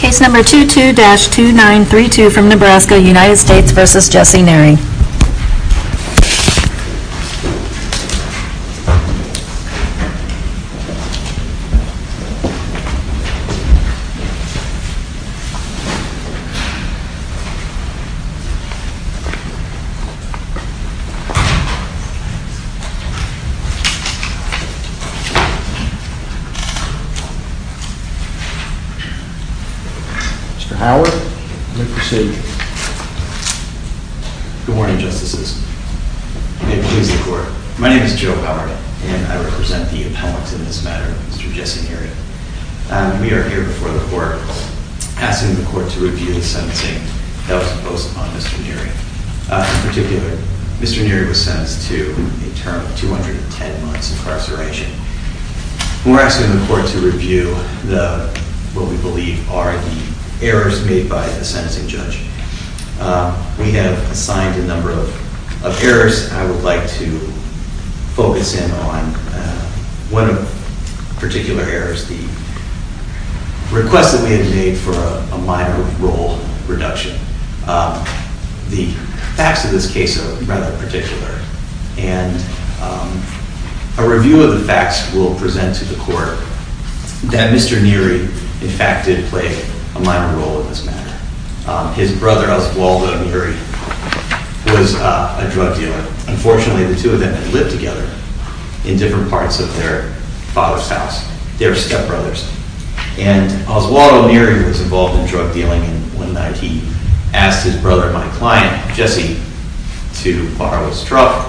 Case number 22-2932 from Nebraska United States v. Jesse Neri Mr. Howard, you may proceed. Good morning, Justices. May it please the Court, my name is Joe Howard, and I represent the appellants in this matter, Mr. Jesse Neri. We are here before the Court asking the Court to review the sentencing that was imposed upon Mr. Neri. In particular, Mr. Neri was sentenced to a term of 210 months incarceration. We are asking the Court to review what we believe are the errors made by the sentencing judge. We have assigned a number of errors, and I would like to focus in on one particular error, the request that we have made for a minor role reduction. The facts of this case are rather particular, and a review of the facts will present to the Court that Mr. Neri, in fact, did play a minor role in this matter. His brother, Oswaldo Neri, was a drug dealer. Unfortunately, the two of them had lived together in different parts of their father's house. They were stepbrothers. And Oswaldo Neri was involved in drug dealing, and one night he asked his brother, my client, Jesse, to borrow his truck.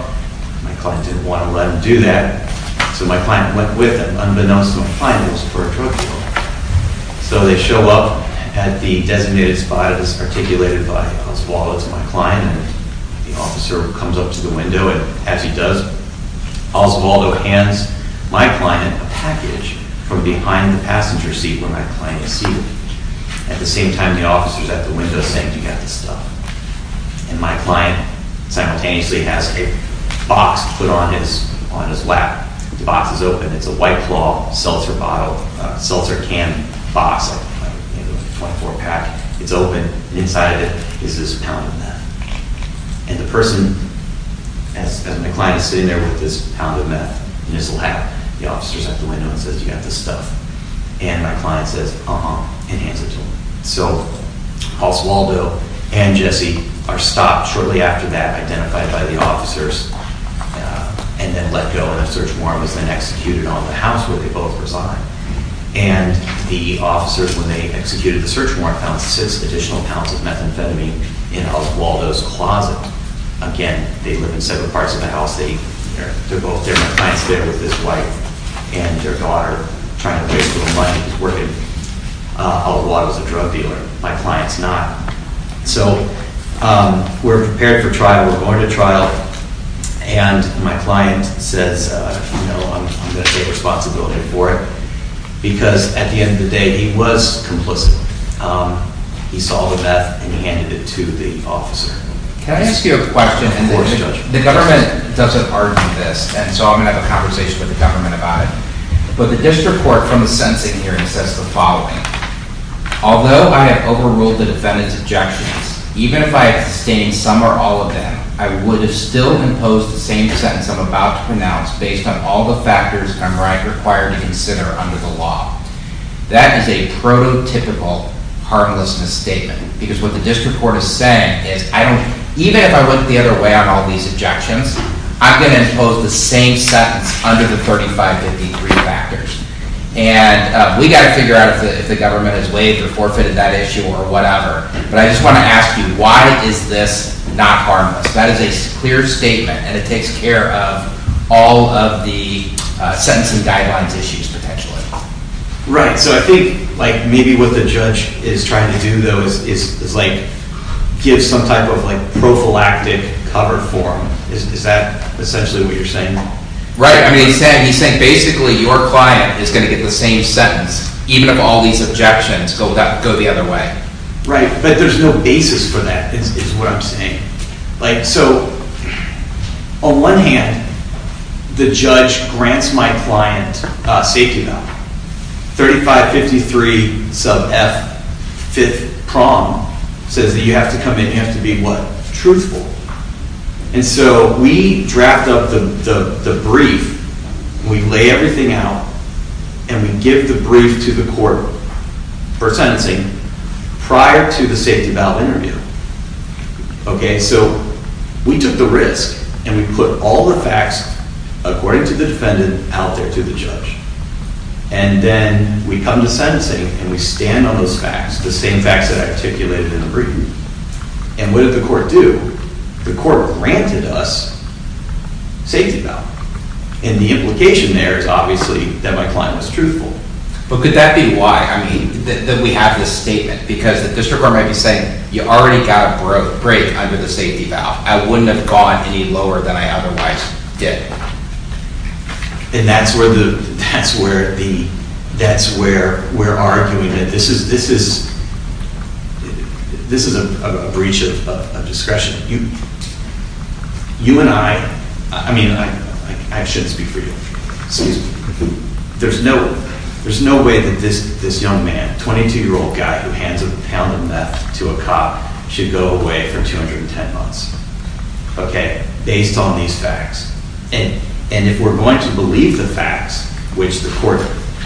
My client didn't want to let him do that, so my client went with him, unbeknownst to my client, who was a former drug dealer. So they show up at the designated spot that was articulated by Oswaldo to my client, and the officer comes up to the window and, as he does, Oswaldo hands my client a package from behind the passenger seat where my client is seated. At the same time, the officer is at the window saying, do you have the stuff? And my client simultaneously has a box put on his lap. The box is open. It's a white claw, seltzer bottle, seltzer can box, 24-pack. It's open, and inside of it is this pound of meth. And the person, as my client is sitting there with this pound of meth in his lap, the officer is at the window and says, do you have the stuff? And my client says, uh-huh, and hands it to him. So Oswaldo and Jesse are stopped shortly after that, identified by the officers, and then let go. And a search warrant was then executed on the house where they both reside. And the officers, when they executed the search warrant, found six additional pounds of methamphetamine in Oswaldo's closet. Again, they live in separate parts of the house. They're both there. My client's there with his wife and their daughter, trying to raise a little money. He's working. Oswaldo's a drug dealer. My client's not. So we're prepared for trial. We're going to trial. And my client says, you know, I'm going to take responsibility for it. Because at the end of the day, he was complicit. He saw the meth, and he handed it to the officer. Can I ask you a question? Of course, Judge. The government doesn't argue this, and so I'm going to have a conversation with the government about it. But the district court, from the sentencing hearing, says the following. Although I have overruled the defendant's objections, even if I abstained some or all of them, I would have still imposed the same sentence I'm about to pronounce based on all the factors I'm required to consider under the law. That is a prototypical harmlessness statement. Because what the district court is saying is, even if I look the other way on all these objections, I'm going to impose the same sentence under the 3553 factors. And we've got to figure out if the government has waived or forfeited that issue or whatever. But I just want to ask you, why is this not harmless? That is a clear statement, and it takes care of all of the sentencing guidelines issues, potentially. Right. So I think, like, maybe what the judge is trying to do, though, is, like, give some type of, like, prophylactic cover form. Is that essentially what you're saying? Right. I mean, he's saying basically your client is going to get the same sentence, even if all these objections go the other way. Right. But there's no basis for that, is what I'm saying. Like, so, on one hand, the judge grants my client safety now. 3553 sub F, fifth prong, says that you have to come in, you have to be, what, truthful. And so we draft up the brief, we lay everything out, and we give the brief to the court for sentencing prior to the safety valve interview. Okay. So we took the risk, and we put all the facts, according to the defendant, out there to the judge. And then we come to sentencing, and we stand on those facts, the same facts that I articulated in the brief. And what did the court do? The court granted us safety valve. And the implication there is obviously that my client was truthful. But could that be why, I mean, that we have this statement? Because the district court might be saying, you already got a break under the safety valve. I wouldn't have gone any lower than I otherwise did. And that's where the, that's where the, that's where we're arguing that this is, this is, this is a breach of discretion. You, you and I, I mean, I shouldn't speak for you. Excuse me. There's no, there's no way that this, this young man, 22-year-old guy who hands a pound of meth to a cop, should go away for 210 months. Okay. Based on these facts. And, and if we're going to believe the facts, which the court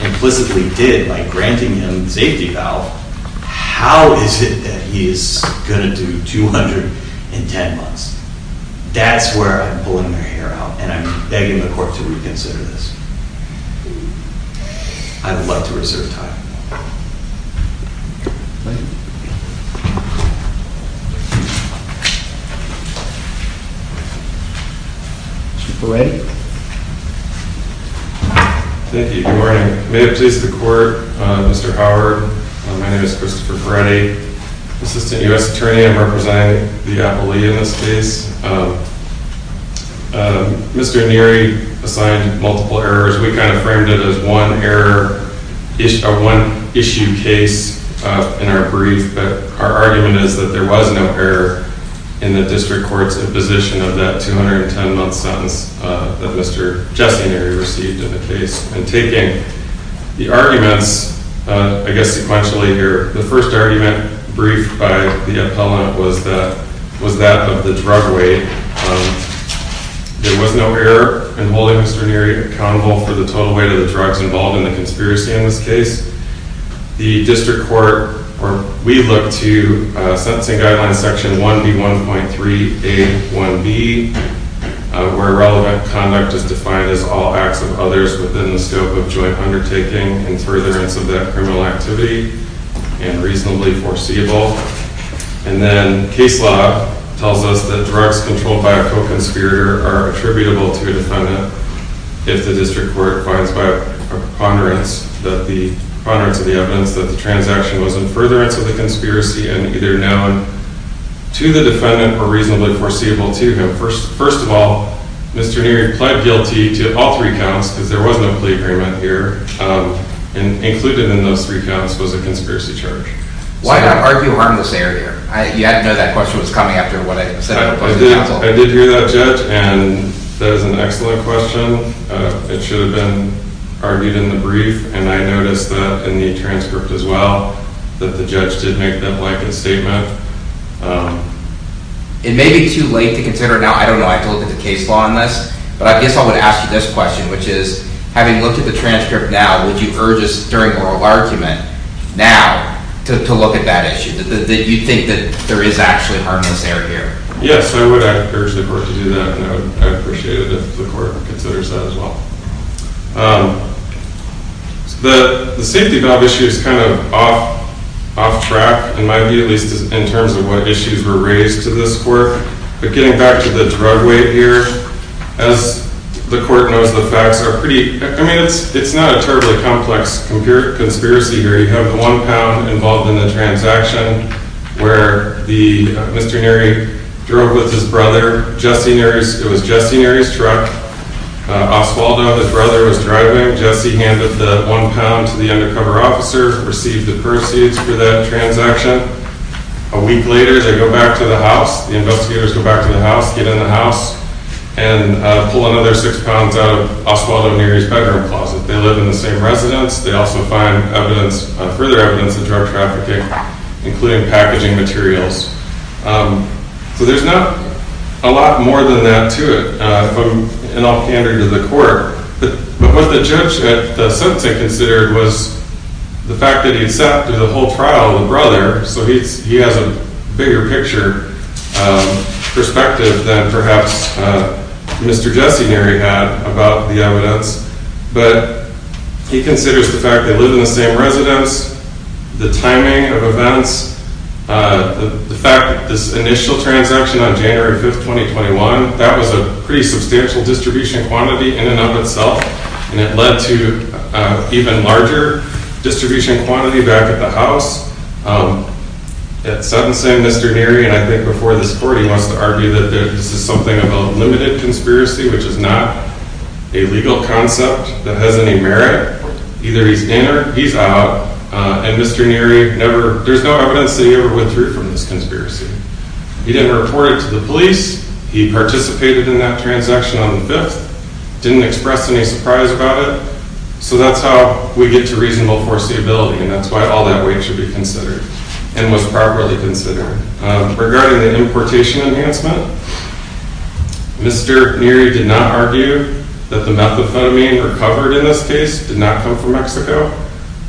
implicitly did by granting him safety valve, how is it that he is going to do 210 months? That's where I'm pulling their hair out. And I'm begging the court to reconsider this. I would like to reserve time. Mr. Peretti. Thank you. Good morning. May it please the court, Mr. Howard. My name is Christopher Peretti, Assistant U.S. Attorney. I'm representing the appellee in this case. Mr. Neary assigned multiple errors. We kind of framed it as one error, one issue case in our brief. But our argument is that there was no error in the district court's imposition of that 210-month sentence that Mr. Jesse Neary received in the case. And taking the arguments, I guess sequentially here, the first argument briefed by the appellant was that, was that of the drug weight. There was no error in holding Mr. Neary accountable for the total weight of the drugs involved in the conspiracy in this case. The district court, we look to Sentencing Guidelines Section 1B1.3A1B, where relevant conduct is defined as all acts of others within the scope of joint undertaking in furtherance of that criminal activity and reasonably foreseeable. And then case law tells us that drugs controlled by a co-conspirator are attributable to a defendant if the district court finds by a preponderance of the evidence that the transaction was in furtherance of the conspiracy and either known to the defendant or reasonably foreseeable to him. First of all, Mr. Neary pled guilty to all three counts, because there was no plea agreement here, and included in those three counts was a conspiracy charge. Why not argue harmless error here? You had to know that question was coming after what I said. I did hear that, Judge, and that is an excellent question. It should have been argued in the brief, and I noticed that in the transcript as well, that the judge did make that blanket statement. It may be too late to consider now. I don't know. I have to look at the case law on this. But I guess I would ask you this question, which is, having looked at the transcript now, would you urge us during oral argument now to look at that issue, that you think that there is actually harmless error here? Yes, I would urge the court to do that, and I would appreciate it if the court considers that as well. The safety valve issue is kind of off track, in my view at least, in terms of what issues were raised to this court. But getting back to the drug weight here, as the court knows the facts, it's not a terribly complex conspiracy here. We have the one pound involved in the transaction where Mr. Neary drove with his brother, Jesse Neary's truck. Osvaldo, his brother, was driving. Jesse handed the one pound to the undercover officer, received the proceeds for that transaction. A week later, they go back to the house. The investigators go back to the house, get in the house, and pull another six pounds out of Osvaldo Neary's bedroom closet. They live in the same residence. They also find further evidence of drug trafficking, including packaging materials. So there's not a lot more than that to it, if I'm at all candid to the court. But what the judge at the sentencing considered was the fact that he'd sat through the whole trial with the brother, so he has a bigger picture perspective than perhaps Mr. Jesse Neary had about the evidence. But he considers the fact they live in the same residence, the timing of events, the fact that this initial transaction on January 5th, 2021, that was a pretty substantial distribution quantity in and of itself, and it led to an even larger distribution quantity back at the house. At sentencing, Mr. Neary, and I think before this court, he wants to argue that this is something of a limited conspiracy, which is not a legal concept that has any merit. Either he's in or he's out. And Mr. Neary, there's no evidence that he ever went through from this conspiracy. He didn't report it to the police. He participated in that transaction on the 5th, didn't express any surprise about it. So that's how we get to reasonable foreseeability, and that's why all that weight should be considered and was properly considered. Regarding the importation enhancement, Mr. Neary did not argue that the methamphetamine recovered in this case did not come from Mexico.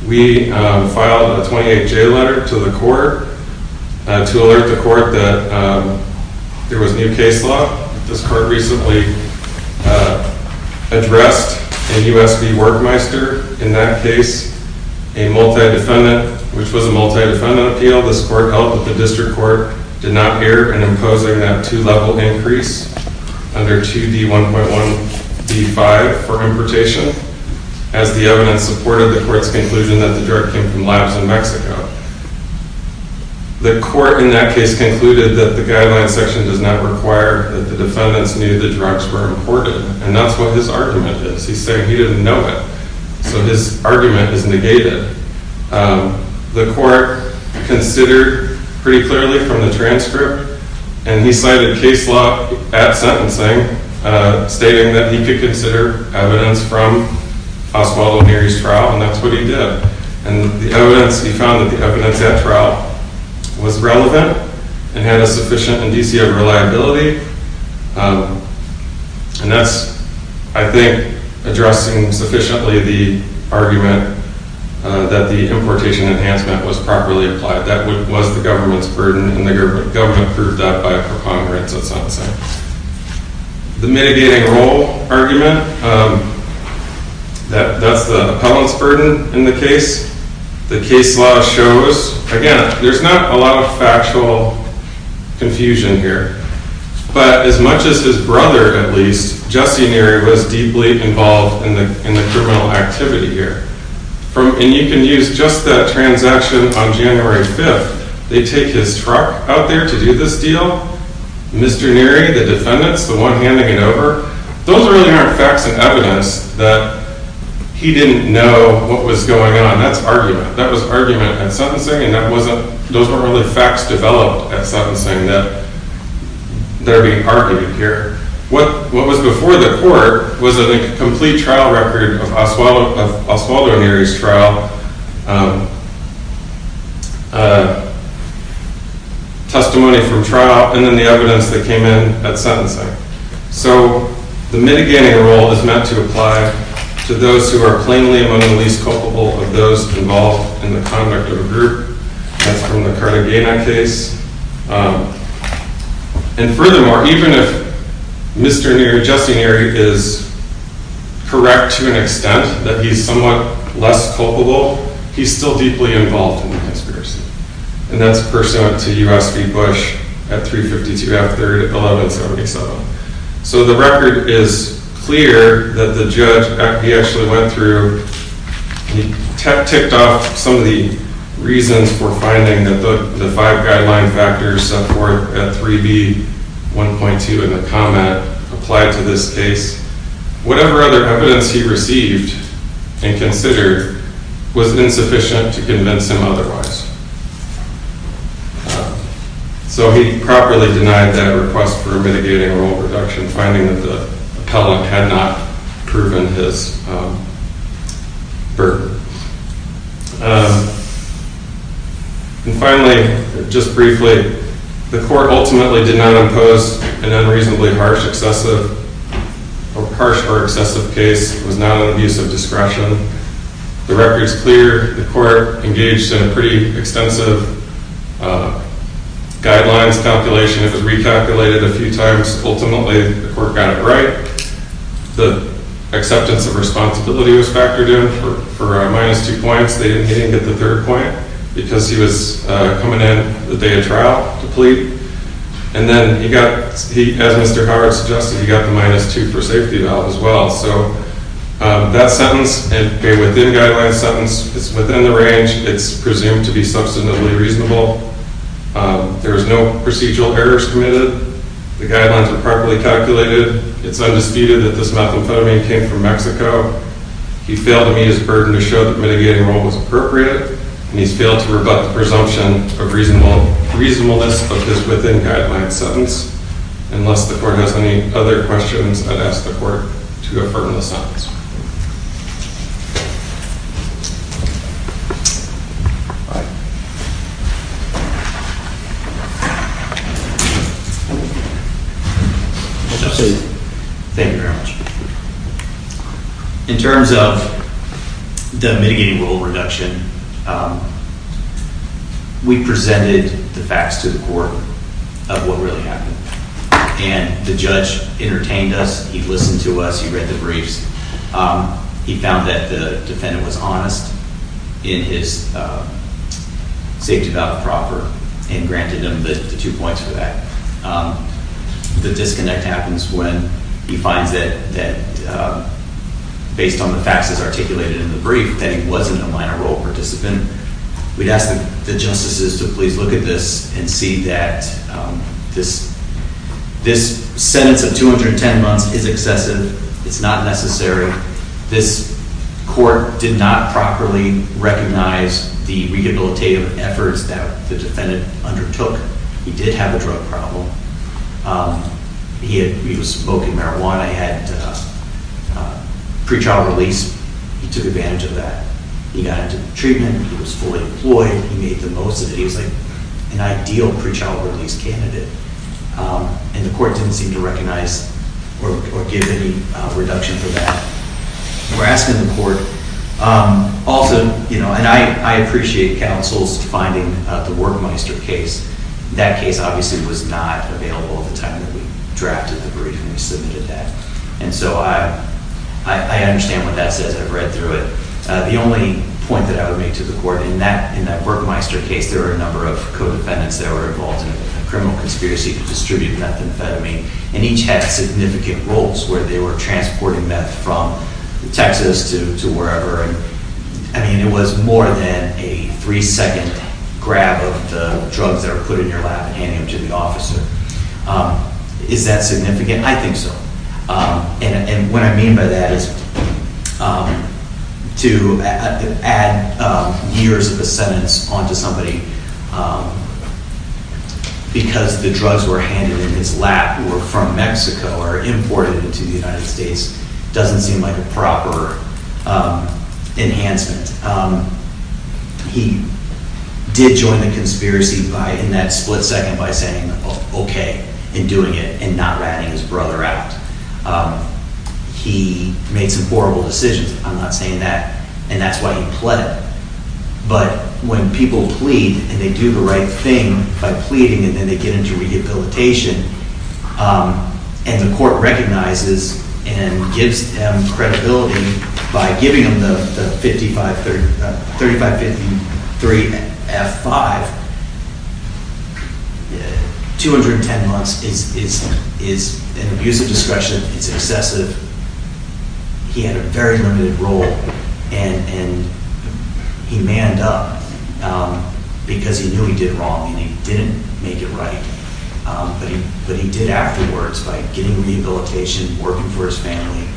We filed a 28-J letter to the court to alert the court that there was new case law. This court recently addressed in U.S. v. Workmeister, in that case, a multi-defendant, which was a multi-defendant appeal. This court held that the district court did not err in imposing that two-level increase under 2D1.1.D5 for importation. As the evidence supported, the court's conclusion that the drug came from labs in Mexico. The court in that case concluded that the guideline section does not require that the defendants knew the drugs were imported. And that's what his argument is. He's saying he didn't know it. So his argument is negated. The court considered pretty clearly from the transcript, and he cited case law at sentencing, stating that he could consider evidence from Oswaldo Neary's trial, and that's what he did. And the evidence, he found that the evidence at trial was relevant and had a sufficient indicia of reliability. And that's, I think, addressing sufficiently the argument that the importation enhancement was properly applied. That that was the government's burden, and the government proved that by a preponderance at sentencing. The mitigating role argument, that's the appellant's burden in the case. The case law shows, again, there's not a lot of factual confusion here. But as much as his brother, at least, Jesse Neary, was deeply involved in the criminal activity here. And you can use just that transaction on January 5th. They take his truck out there to do this deal. Mr. Neary, the defendants, the one handing it over, those really aren't facts and evidence that he didn't know what was going on. That's argument. That was argument at sentencing, and those weren't really facts developed at sentencing that are being argued here. What was before the court was a complete trial record of Oswaldo Neary's trial, testimony from trial, and then the evidence that came in at sentencing. So the mitigating role is meant to apply to those who are plainly among the least culpable of those involved in the conduct of a group. That's from the Cartagena case. And furthermore, even if Mr. Neary, Jesse Neary, is correct to an extent that he's somewhat less culpable, he's still deeply involved in the conspiracy. And that's pursuant to U.S. v. Bush at 3.52 after 11.77. So the record is clear that the judge, he actually went through, he ticked off some of the reasons for finding that the five guideline factors set forth at 3b.1.2 in the comment applied to this case. Whatever other evidence he received and considered was insufficient to convince him otherwise. So he properly denied that request for mitigating role reduction, finding that the appellant had not proven his burden. And finally, just briefly, the court ultimately did not impose an unreasonably harsh or excessive case. It was not an abuse of discretion. The record's clear. The court engaged in a pretty extensive guidelines calculation. It was recalculated a few times. Ultimately, the court got it right. The acceptance of responsibility was factored in for minus two points. He didn't get the third point because he was coming in the day of trial to plead. And then he got, as Mr. Howard suggested, he got the minus two for safety as well. So that sentence, a within guidelines sentence, is within the range. It's presumed to be substantively reasonable. There was no procedural errors committed. The guidelines were properly calculated. It's undisputed that this methamphetamine came from Mexico. He failed to meet his burden to show that mitigating role was appropriate. And he's failed to rebut the presumption of reasonableness of his within guidelines sentence. Unless the court has any other questions, I'd ask the court to affirm the sentence. Thank you very much. In terms of the mitigating role reduction, we presented the facts to the court of what really happened. And the judge entertained us. He listened to us. He read the briefs. He found that the defendant was honest in his safety value proper and granted him the two points for that. The disconnect happens when he finds that, based on the facts as articulated in the brief, that he wasn't a minor role participant. We'd ask the justices to please look at this and see that this sentence of 210 months is excessive. It's not necessary. This court did not properly recognize the rehabilitative efforts that the defendant undertook. He did have a drug problem. He was smoking marijuana. He had pre-trial release. He took advantage of that. He got into treatment. He was fully employed. He made the most of it. He was like an ideal pre-trial release candidate. And the court didn't seem to recognize or give any reduction for that. We're asking the court also, you know, and I appreciate counsel's finding the WorkMeister case. That case obviously was not available at the time that we drafted the brief and we submitted that. And so I understand what that says. I've read through it. The only point that I would make to the court in that WorkMeister case, there were a number of co-defendants that were involved in a criminal conspiracy to distribute methamphetamine. And each had significant roles where they were transporting meth from Texas to wherever. I mean, it was more than a three-second grab of the drugs that are put in your lap and handing them to the officer. Is that significant? I think so. And what I mean by that is to add years of a sentence onto somebody because the drugs were handed in his lap or from Mexico or imported into the United States doesn't seem like a proper enhancement. He did join the conspiracy in that split second by saying, okay, and doing it and not ratting his brother out. He made some horrible decisions. I'm not saying that. And that's why he pleaded. But when people plead and they do the right thing by pleading and then they get into rehabilitation and the court recognizes and gives them credibility by giving them the 3553F5, 210 months is an abuse of discretion. It's excessive. He had a very limited role, and he manned up because he knew he did wrong and he didn't make it right. But he did afterwards by getting rehabilitation, working for his family.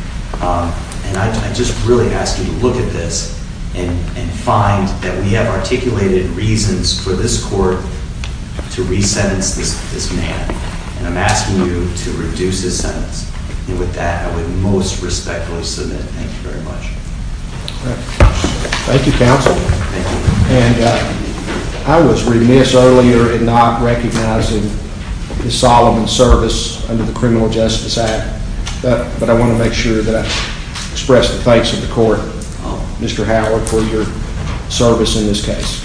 And I just really ask you to look at this and find that we have articulated reasons for this court to resentence this man. And I'm asking you to reduce his sentence. And with that, I would most respectfully submit. Thank you very much. Thank you, counsel. Thank you. And I was remiss earlier in not recognizing his solemn service under the Criminal Justice Act, but I want to make sure that I express the thanks of the court, Mr. Howard, for your service in this case.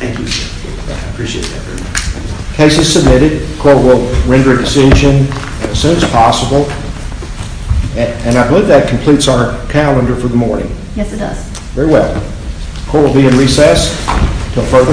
Thank you, sir. I appreciate that very much. The case is submitted. The court will render a decision as soon as possible. And I believe that completes our calendar for the morning. Yes, it does. Very well. Court will be in recess until further call. Thanks.